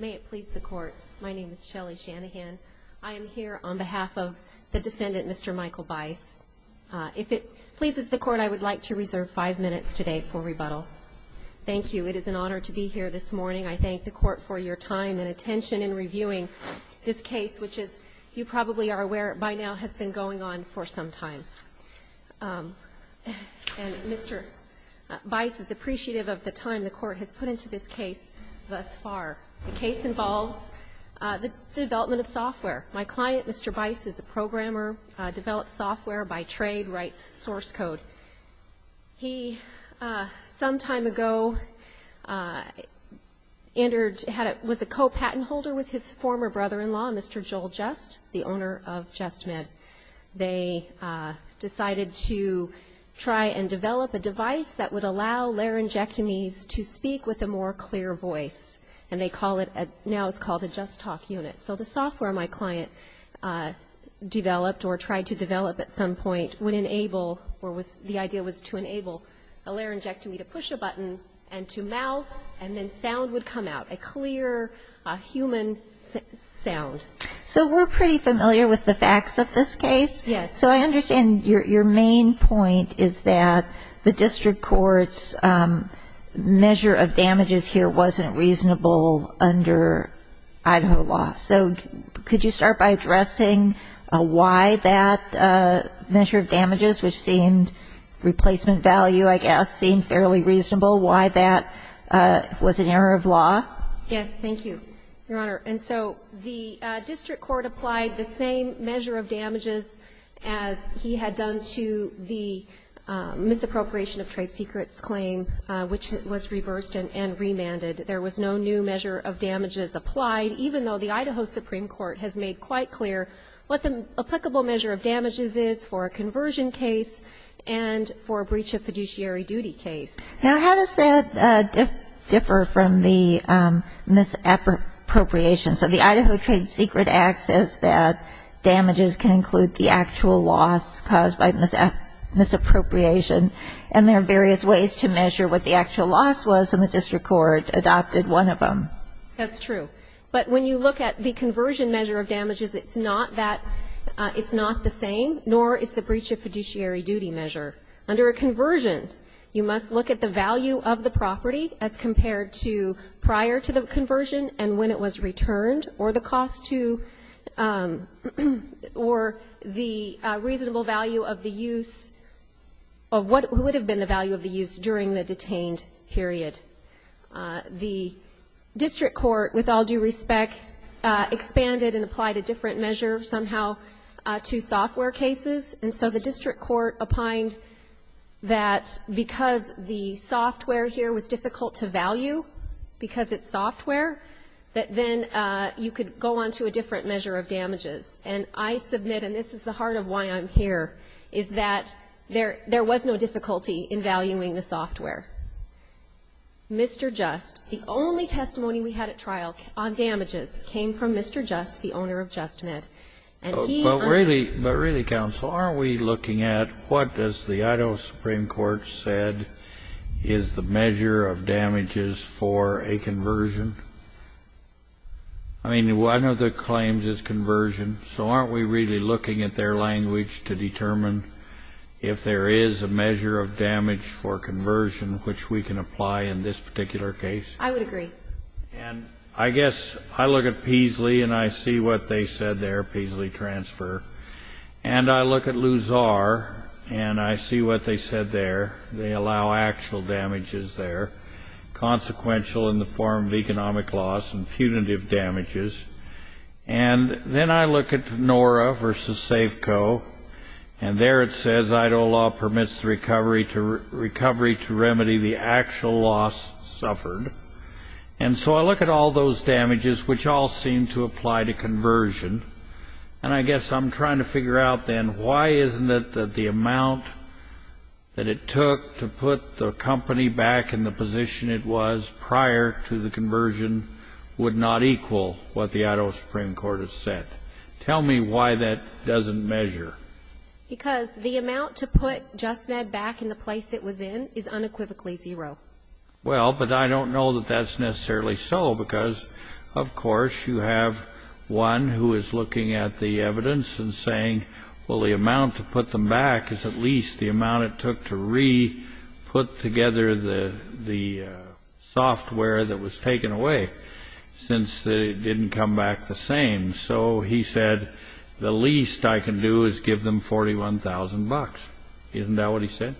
May it please the Court, my name is Shelley Shanahan. I am here on behalf of the defendant, Mr. Michael Byce. If it pleases the Court, I would like to reserve five minutes today for rebuttal. Thank you. It is an honor to be here this morning. I thank the Court for your time and attention in reviewing this case, which, as you probably are aware by now, has been going on for some time. And Mr. Byce is appreciative of the time the Court has put into this case thus far. The case involves the development of software. My client, Mr. Byce, is a programmer, develops software by trade, writes source code. He, some time ago, was a co-patent holder with his former brother-in-law, Mr. Joel Just, the owner of JustMed. They decided to try and develop a device that would allow laryngectomies to speak with a more clear voice. And they call it, now it's called a JustTalk unit. So the software my client developed or tried to develop at some point would enable, or the idea was to enable a laryngectomy to push a button and to mouth, and then sound would come out, a clear human sound. So we're pretty familiar with the facts of this case. Yes. So I understand your main point is that the district court's measure of damages here wasn't reasonable under Idaho law. So could you start by addressing why that measure of damages, which seemed replacement value, I guess, seemed fairly reasonable, why that was an error of law? Yes. Thank you, Your Honor. And so the district court applied the same measure of damages as he had done to the misappropriation of trade secrets claim, which was reversed and remanded. There was no new measure of damages applied, even though the Idaho Supreme Court has made quite clear what the applicable measure of damages is for a conversion case and for a breach of fiduciary duty case. Now, how does that differ from the misappropriation? So the Idaho Trade Secret Act says that damages can include the actual loss caused by misappropriation, and there are various ways to measure what the actual loss was, and the district court adopted one of them. That's true. But when you look at the conversion measure of damages, it's not the same, nor is the breach of fiduciary duty measure. Under a conversion, you must look at the value of the property as compared to prior to the conversion and when it was returned, or the cost to or the reasonable value of the use of what would have been the value of the use during the detained period. The district court, with all due respect, expanded and applied a different measure somehow to software cases. And so the district court opined that because the software here was difficult to value because it's software, that then you could go on to a different measure of damages. And I submit, and this is the heart of why I'm here, is that there was no difficulty in valuing the software. Mr. Just, the only testimony we had at trial on damages came from Mr. Just, the owner of JustMed. But really, Counsel, aren't we looking at what does the Idaho Supreme Court said is the measure of damages for a conversion? I mean, one of the claims is conversion. So aren't we really looking at their language to determine if there is a measure of damage for conversion which we can apply in this particular case? I would agree. And I guess I look at Peasley, and I see what they said there, Peasley transfer. And I look at Luzar, and I see what they said there. They allow actual damages there, consequential in the form of economic loss and punitive damages. And then I look at Nora v. Safeco, and there it says, recovery to remedy the actual loss suffered. And so I look at all those damages, which all seem to apply to conversion. And I guess I'm trying to figure out then why isn't it that the amount that it took to put the company back in the position it was prior to the conversion would not equal what the Idaho Supreme Court has said? Tell me why that doesn't measure. Because the amount to put JustMed back in the place it was in is unequivocally zero. Well, but I don't know that that's necessarily so because, of course, you have one who is looking at the evidence and saying, well the amount to put them back is at least the amount it took to re-put together the software that was taken away since it didn't come back the same. So he said, the least I can do is give them $41,000. Isn't that what he said?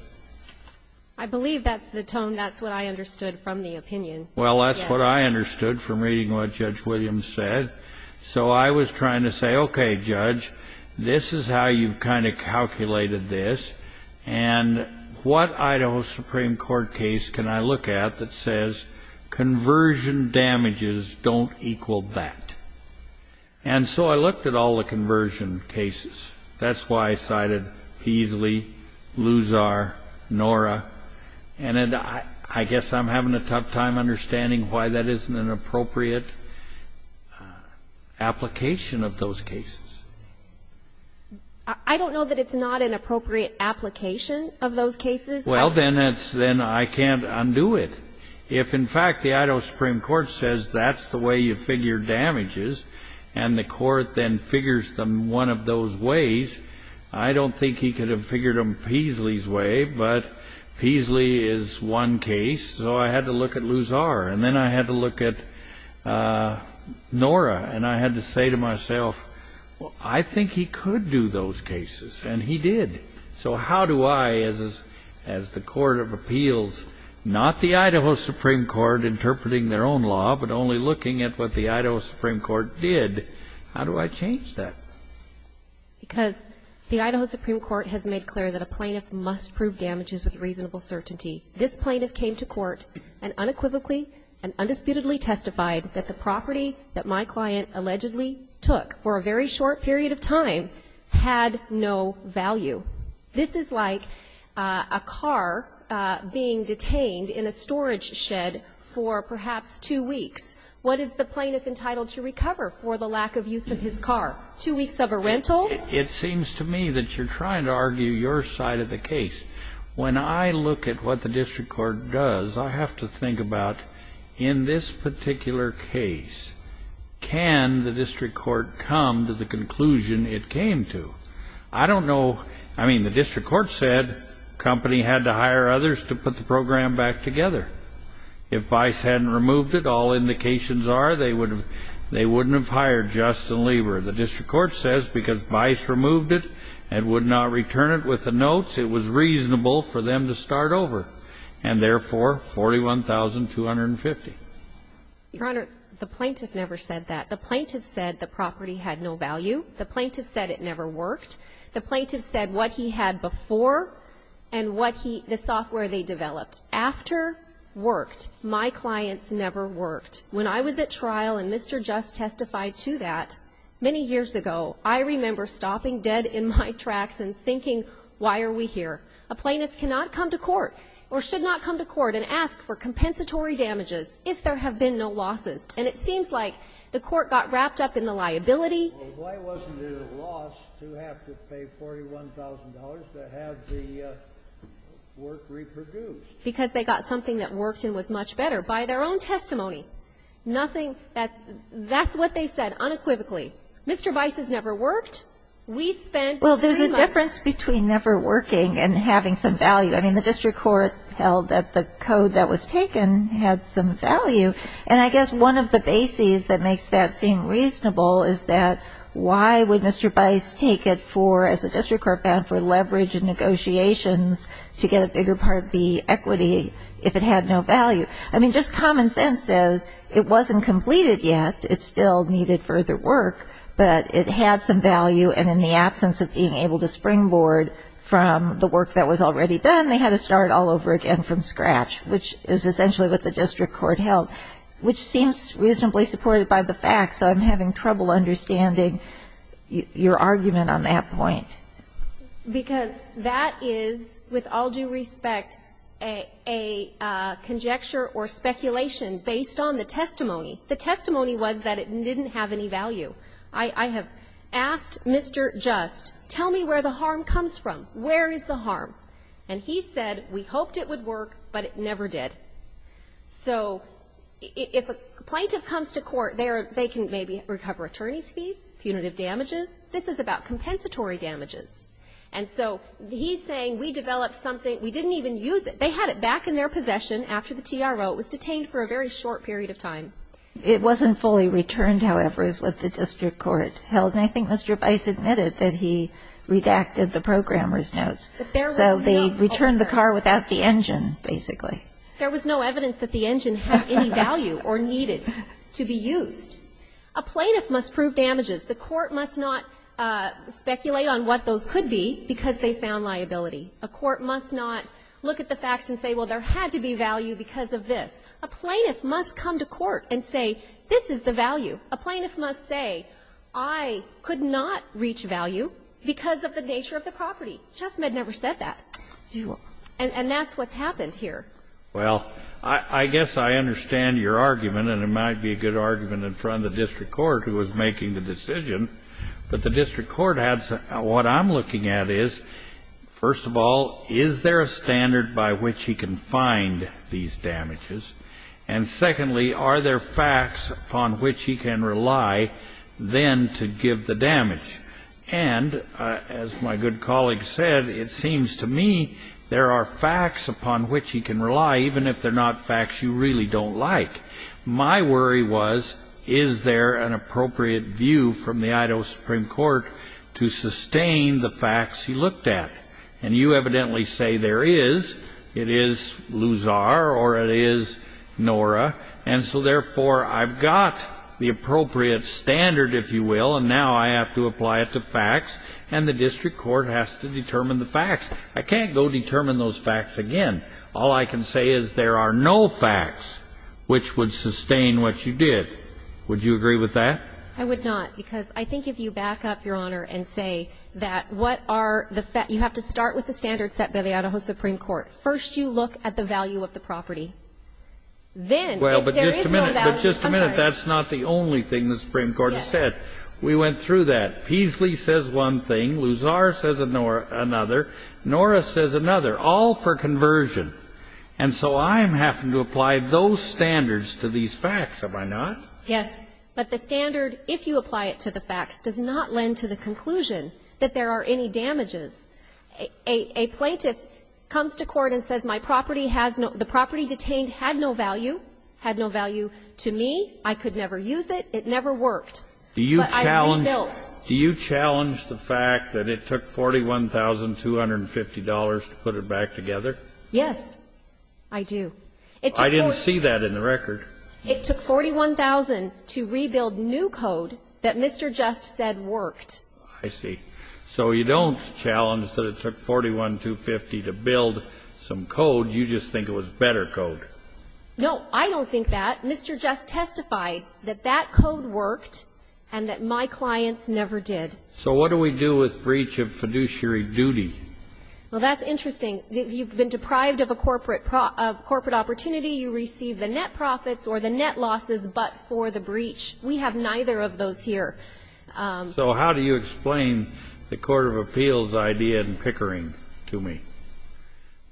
I believe that's the tone. That's what I understood from the opinion. Well, that's what I understood from reading what Judge Williams said. So I was trying to say, okay, Judge, this is how you've kind of calculated this. And what Idaho Supreme Court case can I look at that says conversion damages don't equal that? And so I looked at all the conversion cases. That's why I cited Beasley, Luzar, Nora. And I guess I'm having a tough time understanding why that isn't an appropriate application of those cases. I don't know that it's not an appropriate application of those cases. Well, then I can't undo it. If, in fact, the Idaho Supreme Court says that's the way you figure damages and the court then figures them one of those ways, I don't think he could have figured them Beasley's way. But Beasley is one case. So I had to look at Luzar. And then I had to look at Nora. And I had to say to myself, I think he could do those cases. And he did. So how do I, as the court of appeals, not the Idaho Supreme Court interpreting their own law but only looking at what the Idaho Supreme Court did, how do I change that? Because the Idaho Supreme Court has made clear that a plaintiff must prove damages with reasonable certainty. This plaintiff came to court and unequivocally and undisputedly testified that the property that my client allegedly took for a very short period of time had no value. This is like a car being detained in a storage shed for perhaps two weeks. What is the plaintiff entitled to recover for the lack of use of his car? Two weeks of a rental? It seems to me that you're trying to argue your side of the case. When I look at what the district court does, I have to think about in this particular case, can the district court come to the conclusion it came to? I don't know. I mean, the district court said the company had to hire others to put the program back together. If Vice hadn't removed it, all indications are they wouldn't have hired Justin Lieber. The district court says because Vice removed it and would not return it with the notes, it was reasonable for them to start over, and therefore 41,250. Your Honor, the plaintiff never said that. The plaintiff said the property had no value. The plaintiff said it never worked. The plaintiff said what he had before and the software they developed. After worked, my clients never worked. When I was at trial and Mr. Just testified to that, many years ago, I remember stopping dead in my tracks and thinking, why are we here? A plaintiff cannot come to court or should not come to court and ask for compensatory damages if there have been no losses, and it seems like the court got wrapped up in the liability. Well, why wasn't it a loss to have to pay $41,000 to have the work reproduced? Because they got something that worked and was much better by their own testimony. Nothing that's what they said unequivocally. We spent three months. Well, there's a difference between never working and having some value. I mean, the district court held that the code that was taken had some value, and I guess one of the bases that makes that seem reasonable is that why would Mr. Bice take it for, as the district court found, for leverage and negotiations to get a bigger part of the equity if it had no value? I mean, just common sense says it wasn't completed yet, it still needed further work, but it had some value, and in the absence of being able to springboard from the work that was already done, they had to start all over again from scratch, which is essentially what the district court held, which seems reasonably supported by the facts. So I'm having trouble understanding your argument on that point. Because that is, with all due respect, a conjecture or speculation based on the testimony. The testimony was that it didn't have any value. I have asked Mr. Just, tell me where the harm comes from. Where is the harm? And he said, we hoped it would work, but it never did. So if a plaintiff comes to court, they can maybe recover attorney's fees, punitive damages. This is about compensatory damages. And so he's saying we developed something, we didn't even use it. They had it back in their possession after the TRO. It was detained for a very short period of time. It wasn't fully returned, however, is what the district court held. And I think Mr. Bice admitted that he redacted the programmer's notes. So they returned the car without the engine, basically. There was no evidence that the engine had any value or needed to be used. A plaintiff must prove damages. The court must not speculate on what those could be because they found liability. A court must not look at the facts and say, well, there had to be value because of this. A plaintiff must come to court and say, this is the value. A plaintiff must say, I could not reach value because of the nature of the property. Chestnut never said that. And that's what's happened here. Well, I guess I understand your argument, and it might be a good argument in front of the district court who was making the decision. But the district court adds, what I'm looking at is, first of all, is there a standard by which he can find these damages? And secondly, are there facts upon which he can rely then to give the damage? And as my good colleague said, it seems to me there are facts upon which he can rely, even if they're not facts you really don't like. My worry was, is there an appropriate view from the Idaho Supreme Court to sustain the facts he looked at? And you evidently say there is. It is Luzar or it is Nora. And so, therefore, I've got the appropriate standard, if you will, and now I have to apply it to facts, and the district court has to determine the facts. I can't go determine those facts again. All I can say is there are no facts which would sustain what you did. Would you agree with that? I would not, because I think if you back up, Your Honor, and say that what are the facts you have to start with the standards set by the Idaho Supreme Court. First, you look at the value of the property. Then, if there is no value, I'm sorry. Well, but just a minute. But just a minute. That's not the only thing the Supreme Court has said. Yes. We went through that. Peasley says one thing. Luzar says another. Nora says another. All for conversion. And so I'm having to apply those standards to these facts, am I not? Yes. But the standard, if you apply it to the facts, does not lend to the conclusion that there are any damages. A plaintiff comes to court and says my property has no the property detained had no value, had no value to me. I could never use it. It never worked. But I rebuilt. Do you challenge the fact that it took $41,250 to put it back together? Yes, I do. I didn't see that in the record. It took $41,000 to rebuild new code that Mr. Just said worked. I see. So you don't challenge that it took $41,250 to build some code. You just think it was better code. No, I don't think that. Mr. Just testified that that code worked and that my clients never did. So what do we do with breach of fiduciary duty? Well, that's interesting. You've been deprived of a corporate opportunity. You receive the net profits or the net losses but for the breach. We have neither of those here. So how do you explain the Court of Appeals' idea in Pickering to me?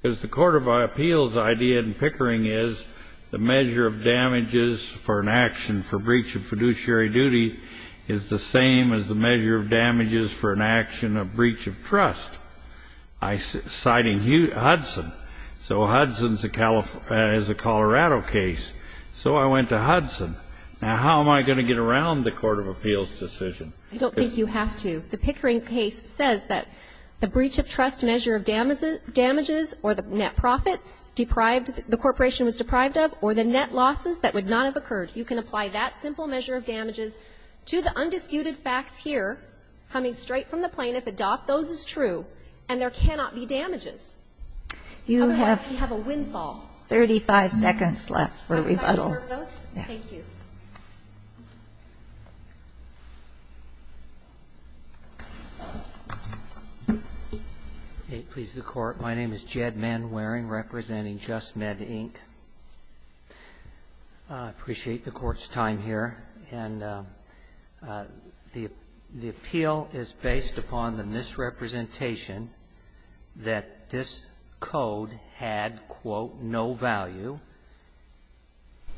Because the Court of Appeals' idea in Pickering is the measure of damages for an action for breach of fiduciary duty is the same as the measure of damages for an action of breach of trust, citing Hudson. So Hudson is a Colorado case. So I went to Hudson. Now, how am I going to get around the Court of Appeals' decision? I don't think you have to. The Pickering case says that the breach of trust measure of damages or the net profits the corporation was deprived of or the net losses that would not have occurred, you can apply that simple measure of damages to the undisputed facts here, coming straight from the plaintiff. Adopt those as true, and there cannot be damages. Otherwise, you have a windfall. You have 35 seconds left for rebuttal. Thank you. Manwaring, representing JustMed, Inc. I appreciate the Court's time here. And the appeal is based upon the misrepresentation that this code had, quote, no value.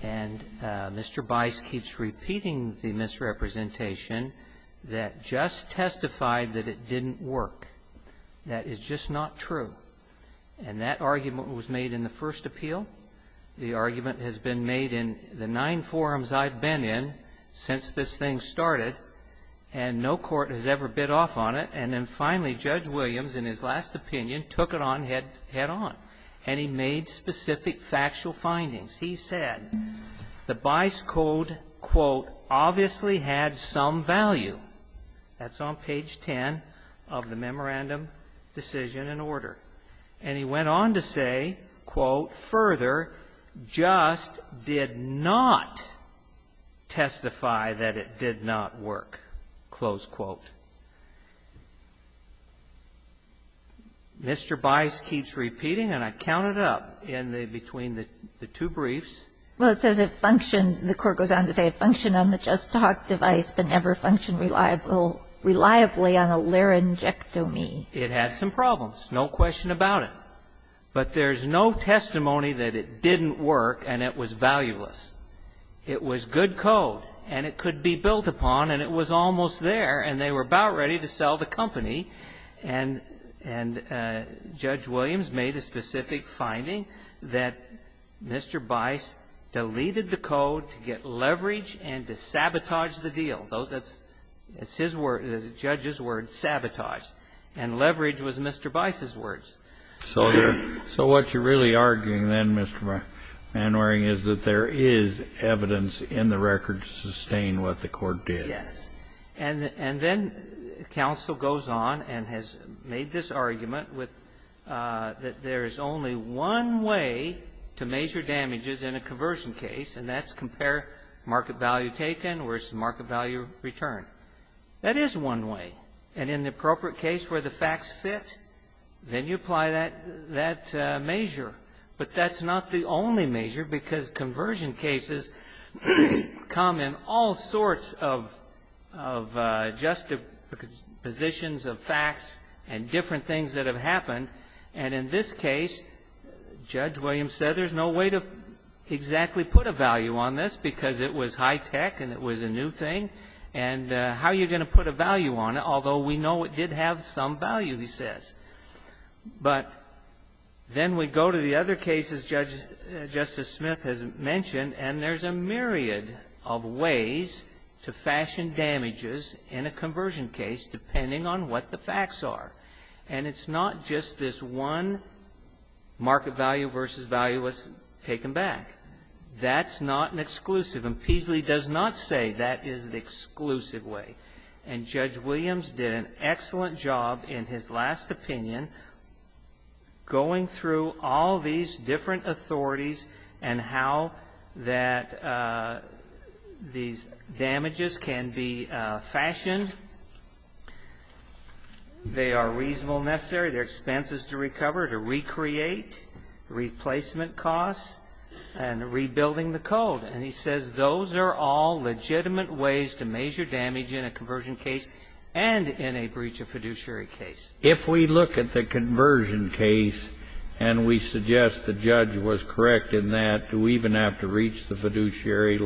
And Mr. Bice keeps repeating the misrepresentation that just testified that it didn't work. That is just not true. And that argument was made in the first appeal. The argument has been made in the nine forums I've been in since this thing started, and no court has ever bid off on it. And then finally, Judge Williams, in his last opinion, took it on head-on. And he made specific factual findings. He said the Bice code, quote, obviously had some value. That's on page 10 of the memorandum decision and order. And he went on to say, quote, further, just did not testify that it did not work, close quote. Mr. Bice keeps repeating, and I counted up in between the two briefs. Well, it says it functioned, the court goes on to say, it functioned on the JustTalk device, but never functioned reliably on a laryngectomy. It had some problems, no question about it. But there's no testimony that it didn't work and it was valueless. It was good code, and it could be built upon, and it was almost there, and they were about ready to sell the company. And Judge Williams made a specific finding that Mr. Bice deleted the code to get leverage and to sabotage the deal. That's his word, the judge's word, sabotage. And leverage was Mr. Bice's words. So what you're really arguing then, Mr. Manwaring, is that there is evidence in the record to sustain what the court did. Yes. And then counsel goes on and has made this argument with that there's only one way to measure damages in a conversion case, and that's compare market value taken versus market value returned. That is one way. And in the appropriate case where the facts fit, then you apply that measure. But that's not the only measure, because conversion cases come in all sorts of adjusted positions of facts and different things that have happened. And in this case, Judge Williams said there's no way to exactly put a value on this because it was high tech and it was a new thing, and how are you going to put a value on it, although we know it did have some value, he says. But then we go to the other cases Judge Justice Smith has mentioned, and there's a myriad of ways to fashion damages in a conversion case depending on what the facts are. And it's not just this one market value versus value was taken back. That's not an exclusive. And Peasley does not say that is the exclusive way. And Judge Williams did an excellent job in his last opinion going through all these different authorities and how that these damages can be fashioned. They are reasonable necessary, their expenses to recover, to recreate, replacement costs, and rebuilding the code. And he says those are all legitimate ways to measure damage in a conversion case and in a breach of fiduciary case. If we look at the conversion case and we suggest the judge was correct in that, do we even have to reach the fiduciary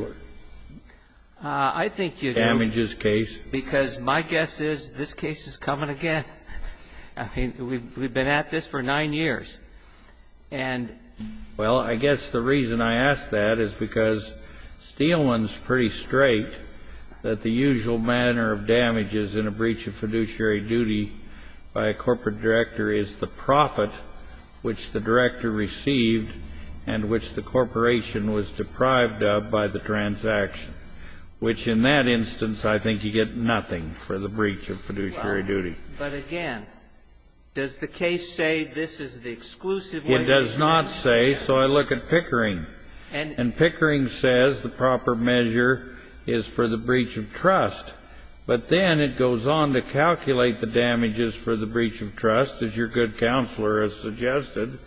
damages case? Because my guess is this case is coming again. I mean, we've been at this for nine years. And the reason I ask that is because Steelman's pretty straight that the usual manner of damages in a breach of fiduciary duty by a corporate director is the profit which the director received and which the corporation was deprived of by the transaction, which in that instance I think you get nothing for the breach of fiduciary duty. But, again, does the case say this is the exclusive way? It does not say. So I look at Pickering. And Pickering says the proper measure is for the breach of trust. But then it goes on to calculate the damages for the breach of trust, as your good counselor has suggested,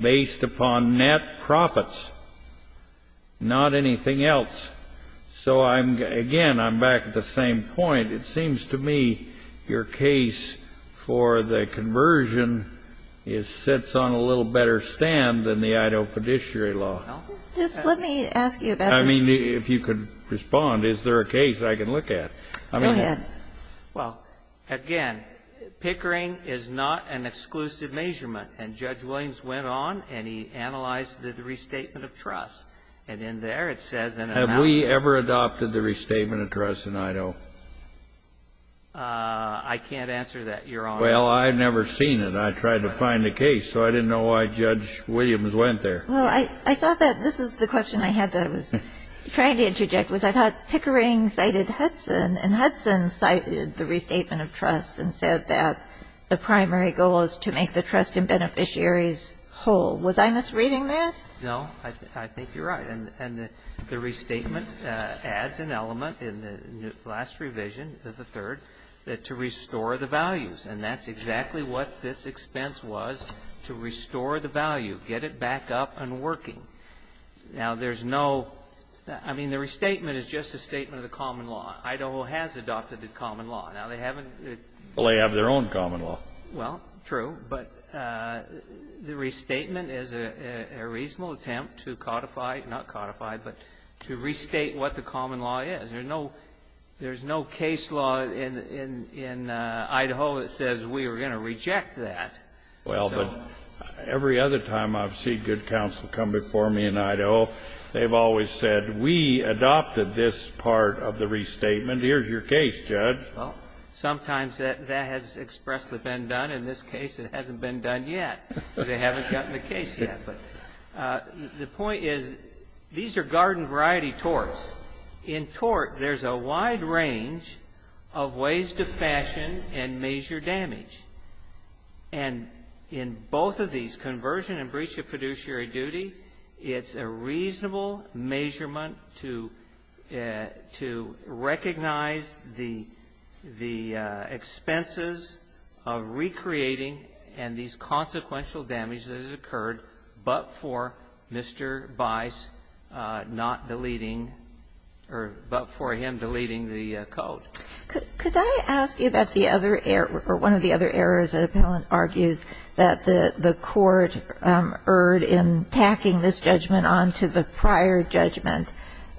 based upon net profits, not anything else. So, again, I'm back at the same point. It seems to me your case for the conversion is sits on a little better stand than the Idaho fiduciary law. Just let me ask you about this. I mean, if you could respond. Is there a case I can look at? Go ahead. Well, again, Pickering is not an exclusive measurement. And Judge Williams went on and he analyzed the restatement of trust. And in there it says in an amount of money. Did we ever adopt the restatement of trust in Idaho? I can't answer that, Your Honor. Well, I've never seen it. I tried to find the case. So I didn't know why Judge Williams went there. Well, I thought that this is the question I had that I was trying to interject, was I thought Pickering cited Hudson. And Hudson cited the restatement of trust and said that the primary goal is to make the trust in beneficiaries whole. Was I misreading that? No. I think you're right. And the restatement adds an element in the last revision, the third, to restore the values. And that's exactly what this expense was, to restore the value, get it back up and working. Now, there's no — I mean, the restatement is just a statement of the common law. Idaho has adopted the common law. Now, they haven't — Well, they have their own common law. Well, true. But the restatement is a reasonable attempt to codify — not codify, but to restate what the common law is. There's no case law in Idaho that says we are going to reject that. Well, but every other time I've seen good counsel come before me in Idaho, they've always said, we adopted this part of the restatement. Here's your case, Judge. Well, sometimes that has expressly been done. In this case, it hasn't been done yet. They haven't gotten the case yet. But the point is, these are garden-variety torts. In tort, there's a wide range of ways to fashion and measure damage. And in both of these, conversion and breach of fiduciary duty, it's a reasonable measurement to — to recognize the — the expenses of recreating and these consequential damages that has occurred but for Mr. Bice not deleting — or but for him deleting the code. Could I ask you about the other — or one of the other errors that Appellant argues that the court erred in tacking this judgment onto the prior judgment.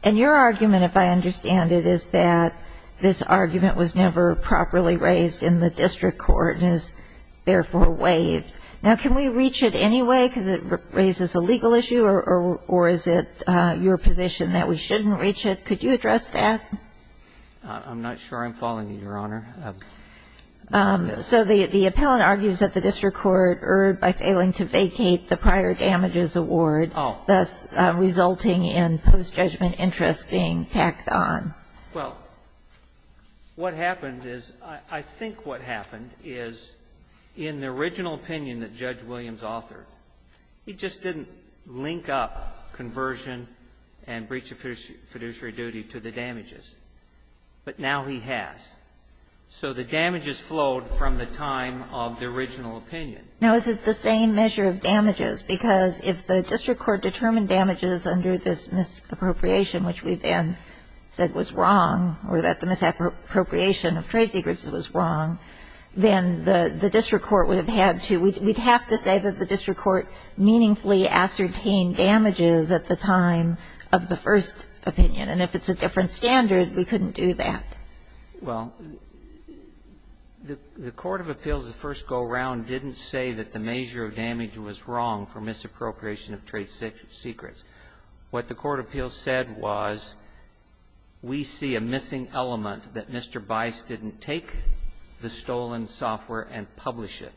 And your argument, if I understand it, is that this argument was never properly raised in the district court and is therefore waived. Now, can we reach it anyway because it raises a legal issue, or is it your position that we shouldn't reach it? Could you address that? I'm not sure I'm following you, Your Honor. So the Appellant argues that the district court erred by failing to vacate the prior damages award, thus resulting in post-judgment interest being tacked on. Well, what happens is — I think what happened is, in the original opinion that Judge Williams authored, he just didn't link up conversion and breach of fiduciary duty to the damages. But now he has. So the damages flowed from the time of the original opinion. Now, is it the same measure of damages? Because if the district court determined damages under this misappropriation, which we then said was wrong, or that the misappropriation of trade secrets was wrong, then the district court would have had to — we'd have to say that the district court meaningfully ascertained damages at the time of the first opinion. And if it's a different standard, we couldn't do that. Well, the Court of Appeals, the first go-round, didn't say that the measure of damage was wrong for misappropriation of trade secrets. What the Court of Appeals said was, we see a missing element that Mr. Bice didn't take the stolen software and publish it.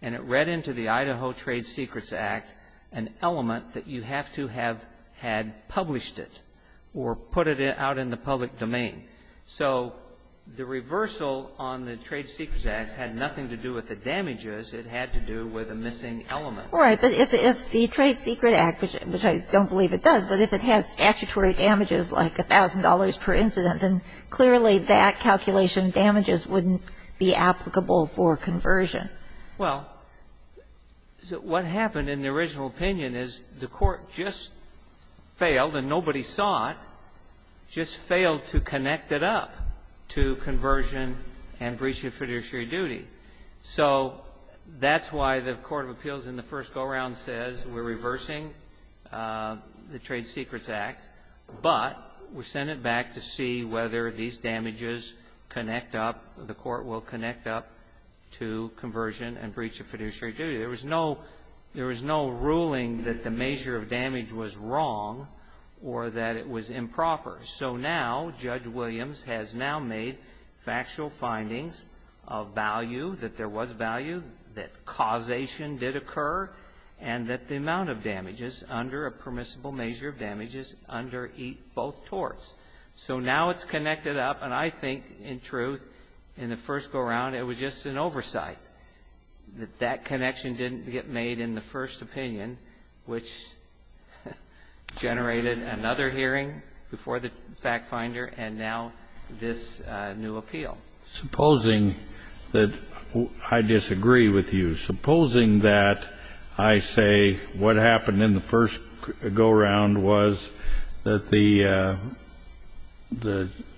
And it read into the Idaho Trade Secrets Act an element that you have to have had published it or put it out in the public domain. So the reversal on the Trade Secrets Act had nothing to do with the damages. It had to do with a missing element. All right. But if the Trade Secrets Act, which I don't believe it does, but if it had statutory damages like $1,000 per incident, then clearly that calculation of damages wouldn't be applicable for conversion. Well, what happened in the original opinion is the Court just failed, and nobody saw it, just failed to connect it up to conversion and breach of fiduciary duty. So that's why the Court of Appeals in the first go-round says, we're reversing the Trade Secrets Act, but we send it back to see whether these damages connect up, the Court will connect up to conversion and breach of fiduciary duty. There was no ruling that the measure of damage was wrong or that it was improper. So now, Judge Williams has now made factual findings of value, that there was value, that causation did occur, and that the amount of damages under a permissible measure of damage is under both torts. So now it's connected up, and I think, in truth, in the first go-round, it was just an oversight, that that connection didn't get made in the first opinion, which generated another hearing before the fact-finder, and now this new appeal. Supposing that I disagree with you. Supposing that I say what happened in the first go-round was that the,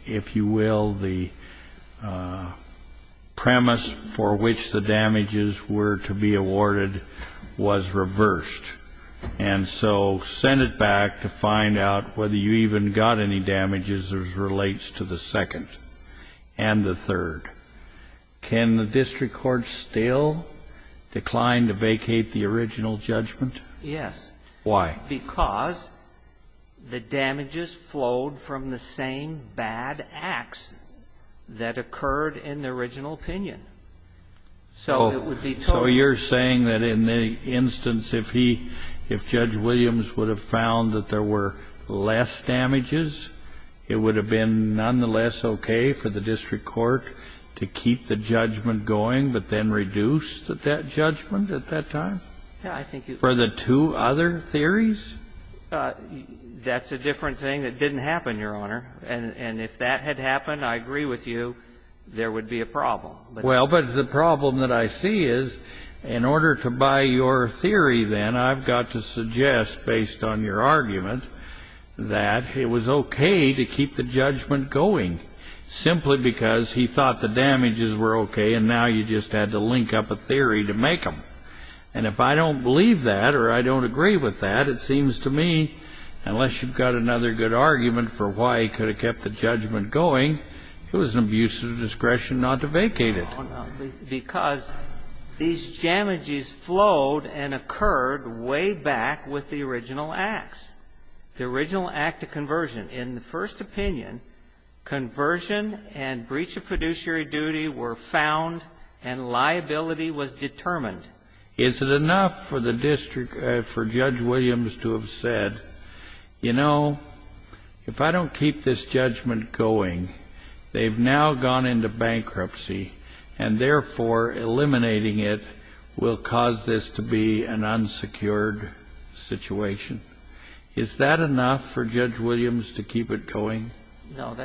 if you will, the premise for which the damages were to be awarded was reversed, and so sent it back to find out whether you even got any damages as relates to the second and the third. Can the district court still decline to vacate the original judgment? Yes. Why? Because the damages flowed from the same bad acts that occurred in the original opinion. So it would be totally different. So you're saying that in the instance if he, if Judge Williams would have found that there were less damages, it would have been nonetheless okay for the district court to keep the judgment going, but then reduce that judgment at that time? Yeah, I think it would. For the two other theories? That's a different thing that didn't happen, Your Honor. And if that had happened, I agree with you, there would be a problem. Well, but the problem that I see is, in order to buy your theory then, I've got to suggest, based on your argument, that it was okay to keep the judgment going simply because he thought the damages were okay, and now you just had to link up a theory to make them. And if I don't believe that or I don't agree with that, it seems to me, unless you've got another good argument for why he could have kept the judgment going, it was an abuse of discretion not to vacate it. Because these damages flowed and occurred way back with the original acts, the original act of conversion. In the first opinion, conversion and breach of fiduciary duty were found and liability was determined. Is it enough for the district, for Judge Williams to have said, you know, if I don't keep this judgment going, they've now gone into bankruptcy, and therefore, eliminating it will cause this to be an unsecured situation. Is that enough for Judge Williams to keep it going? No,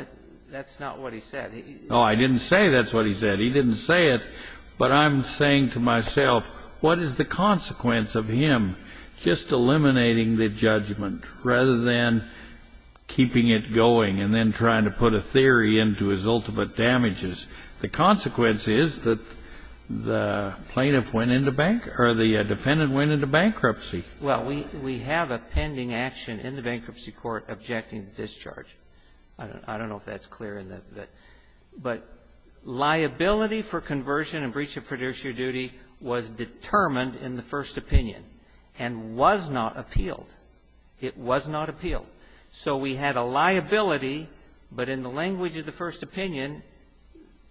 that's not what he said. No, I didn't say that's what he said. He didn't say it, but I'm saying to myself, what is the consequence of him just eliminating the judgment rather than keeping it going and then trying to put a theory into his ultimate damages? The consequence is that the plaintiff went into bank or the defendant went into bankruptcy. Well, we have a pending action in the bankruptcy court objecting to discharge. I don't know if that's clear, but liability for conversion and breach of fiduciary duty was determined in the first opinion and was not appealed. It was not appealed. So we had a liability, but in the language of the first opinion,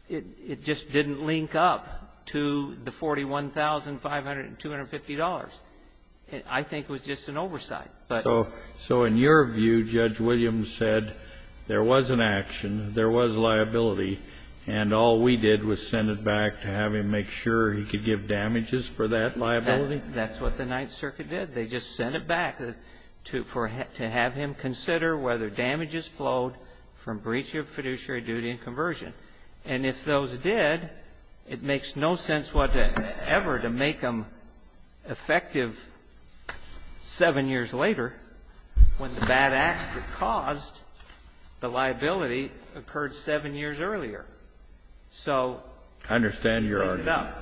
it just didn't link up to the $41,250. I think it was just an oversight. So in your view, Judge Williams said there was an action, there was liability, and all we did was send it back to have him make sure he could give damages for that liability? That's what the Ninth Circuit did. They just sent it back to have him consider whether damages flowed from breach of fiduciary duty and conversion. And if those did, it makes no sense whatever to make them effective seven years later when the bad acts that caused the liability occurred seven years earlier. So we ended up. I understand your argument.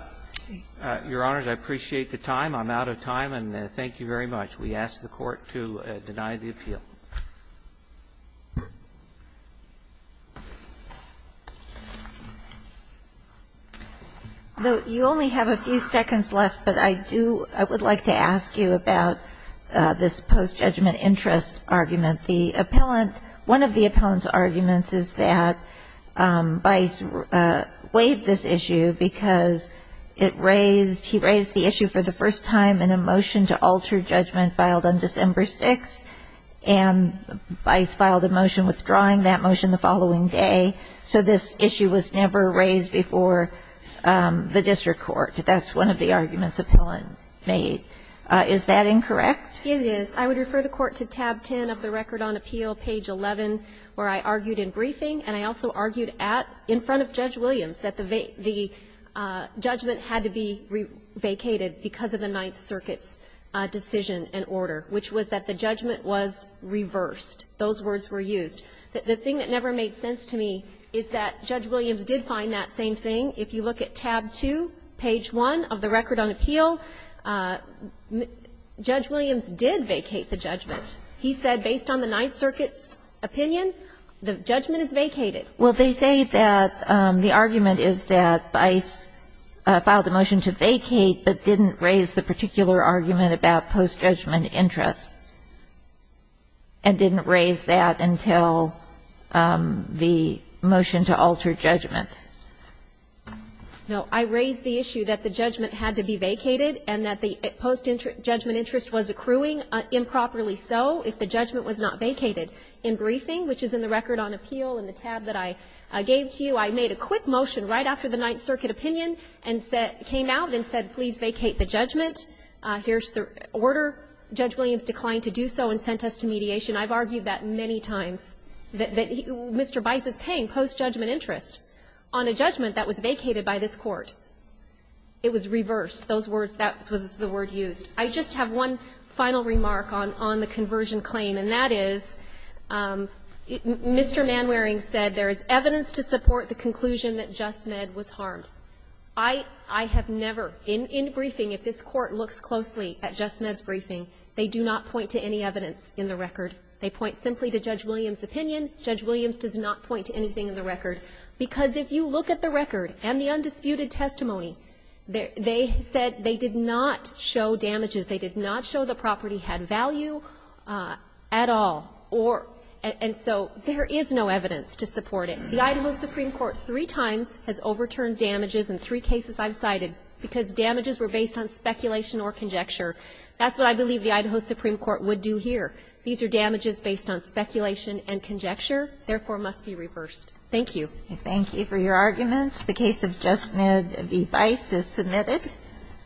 Your Honors, I appreciate the time. I'm out of time. And thank you very much. We ask the Court to deny the appeal. You only have a few seconds left, but I do, I would like to ask you about this post-judgment interest argument. The appellant, one of the appellant's arguments is that Bice weighed this issue because it raised, he raised the issue for the first time in a motion to alter judgment filed on December 6th. And Bice filed a motion withdrawing that motion the following day. So this issue was never raised before the district court. That's one of the arguments the appellant made. Is that incorrect? It is. I would refer the Court to tab 10 of the record on appeal, page 11, where I argued in briefing, and I also argued at, in front of Judge Williams, that the judgment had to be vacated because of the Ninth Circuit's decision and order, which was that the judgment was reversed. Those words were used. The thing that never made sense to me is that Judge Williams did find that same thing. If you look at tab 2, page 1 of the record on appeal, Judge Williams did vacate the judgment. He said, based on the Ninth Circuit's opinion, the judgment is vacated. Well, they say that the argument is that Bice filed the motion to vacate but didn't raise the particular argument about post-judgment interest and didn't raise that until the motion to alter judgment. No. I raised the issue that the judgment had to be vacated and that the post-judgment interest was accruing, improperly so, if the judgment was not vacated. In briefing, which is in the record on appeal in the tab that I gave to you, I made a quick motion right after the Ninth Circuit opinion and came out and said, please vacate the judgment. Here's the order. Judge Williams declined to do so and sent us to mediation. I've argued that many times, that Mr. Bice is paying post-judgment interest on a judgment that was vacated by this Court. It was reversed. Those words, that was the word used. I just have one final remark on the conversion claim, and that is, Mr. Manwaring said there is evidence to support the conclusion that Just Med was harmed. I have never, in briefing, if this Court looks closely at Just Med's briefing, they do not point to any evidence in the record. They point simply to Judge Williams' opinion. Judge Williams does not point to anything in the record. Because if you look at the record and the undisputed testimony, they said they did not show damages. They did not show the property had value at all. And so there is no evidence to support it. The Idaho Supreme Court three times has overturned damages in three cases I've cited because damages were based on speculation or conjecture. That's what I believe the Idaho Supreme Court would do here. These are damages based on speculation and conjecture, therefore must be reversed. Thank you. Thank you for your arguments. The case of Just Med v. Bice is submitted.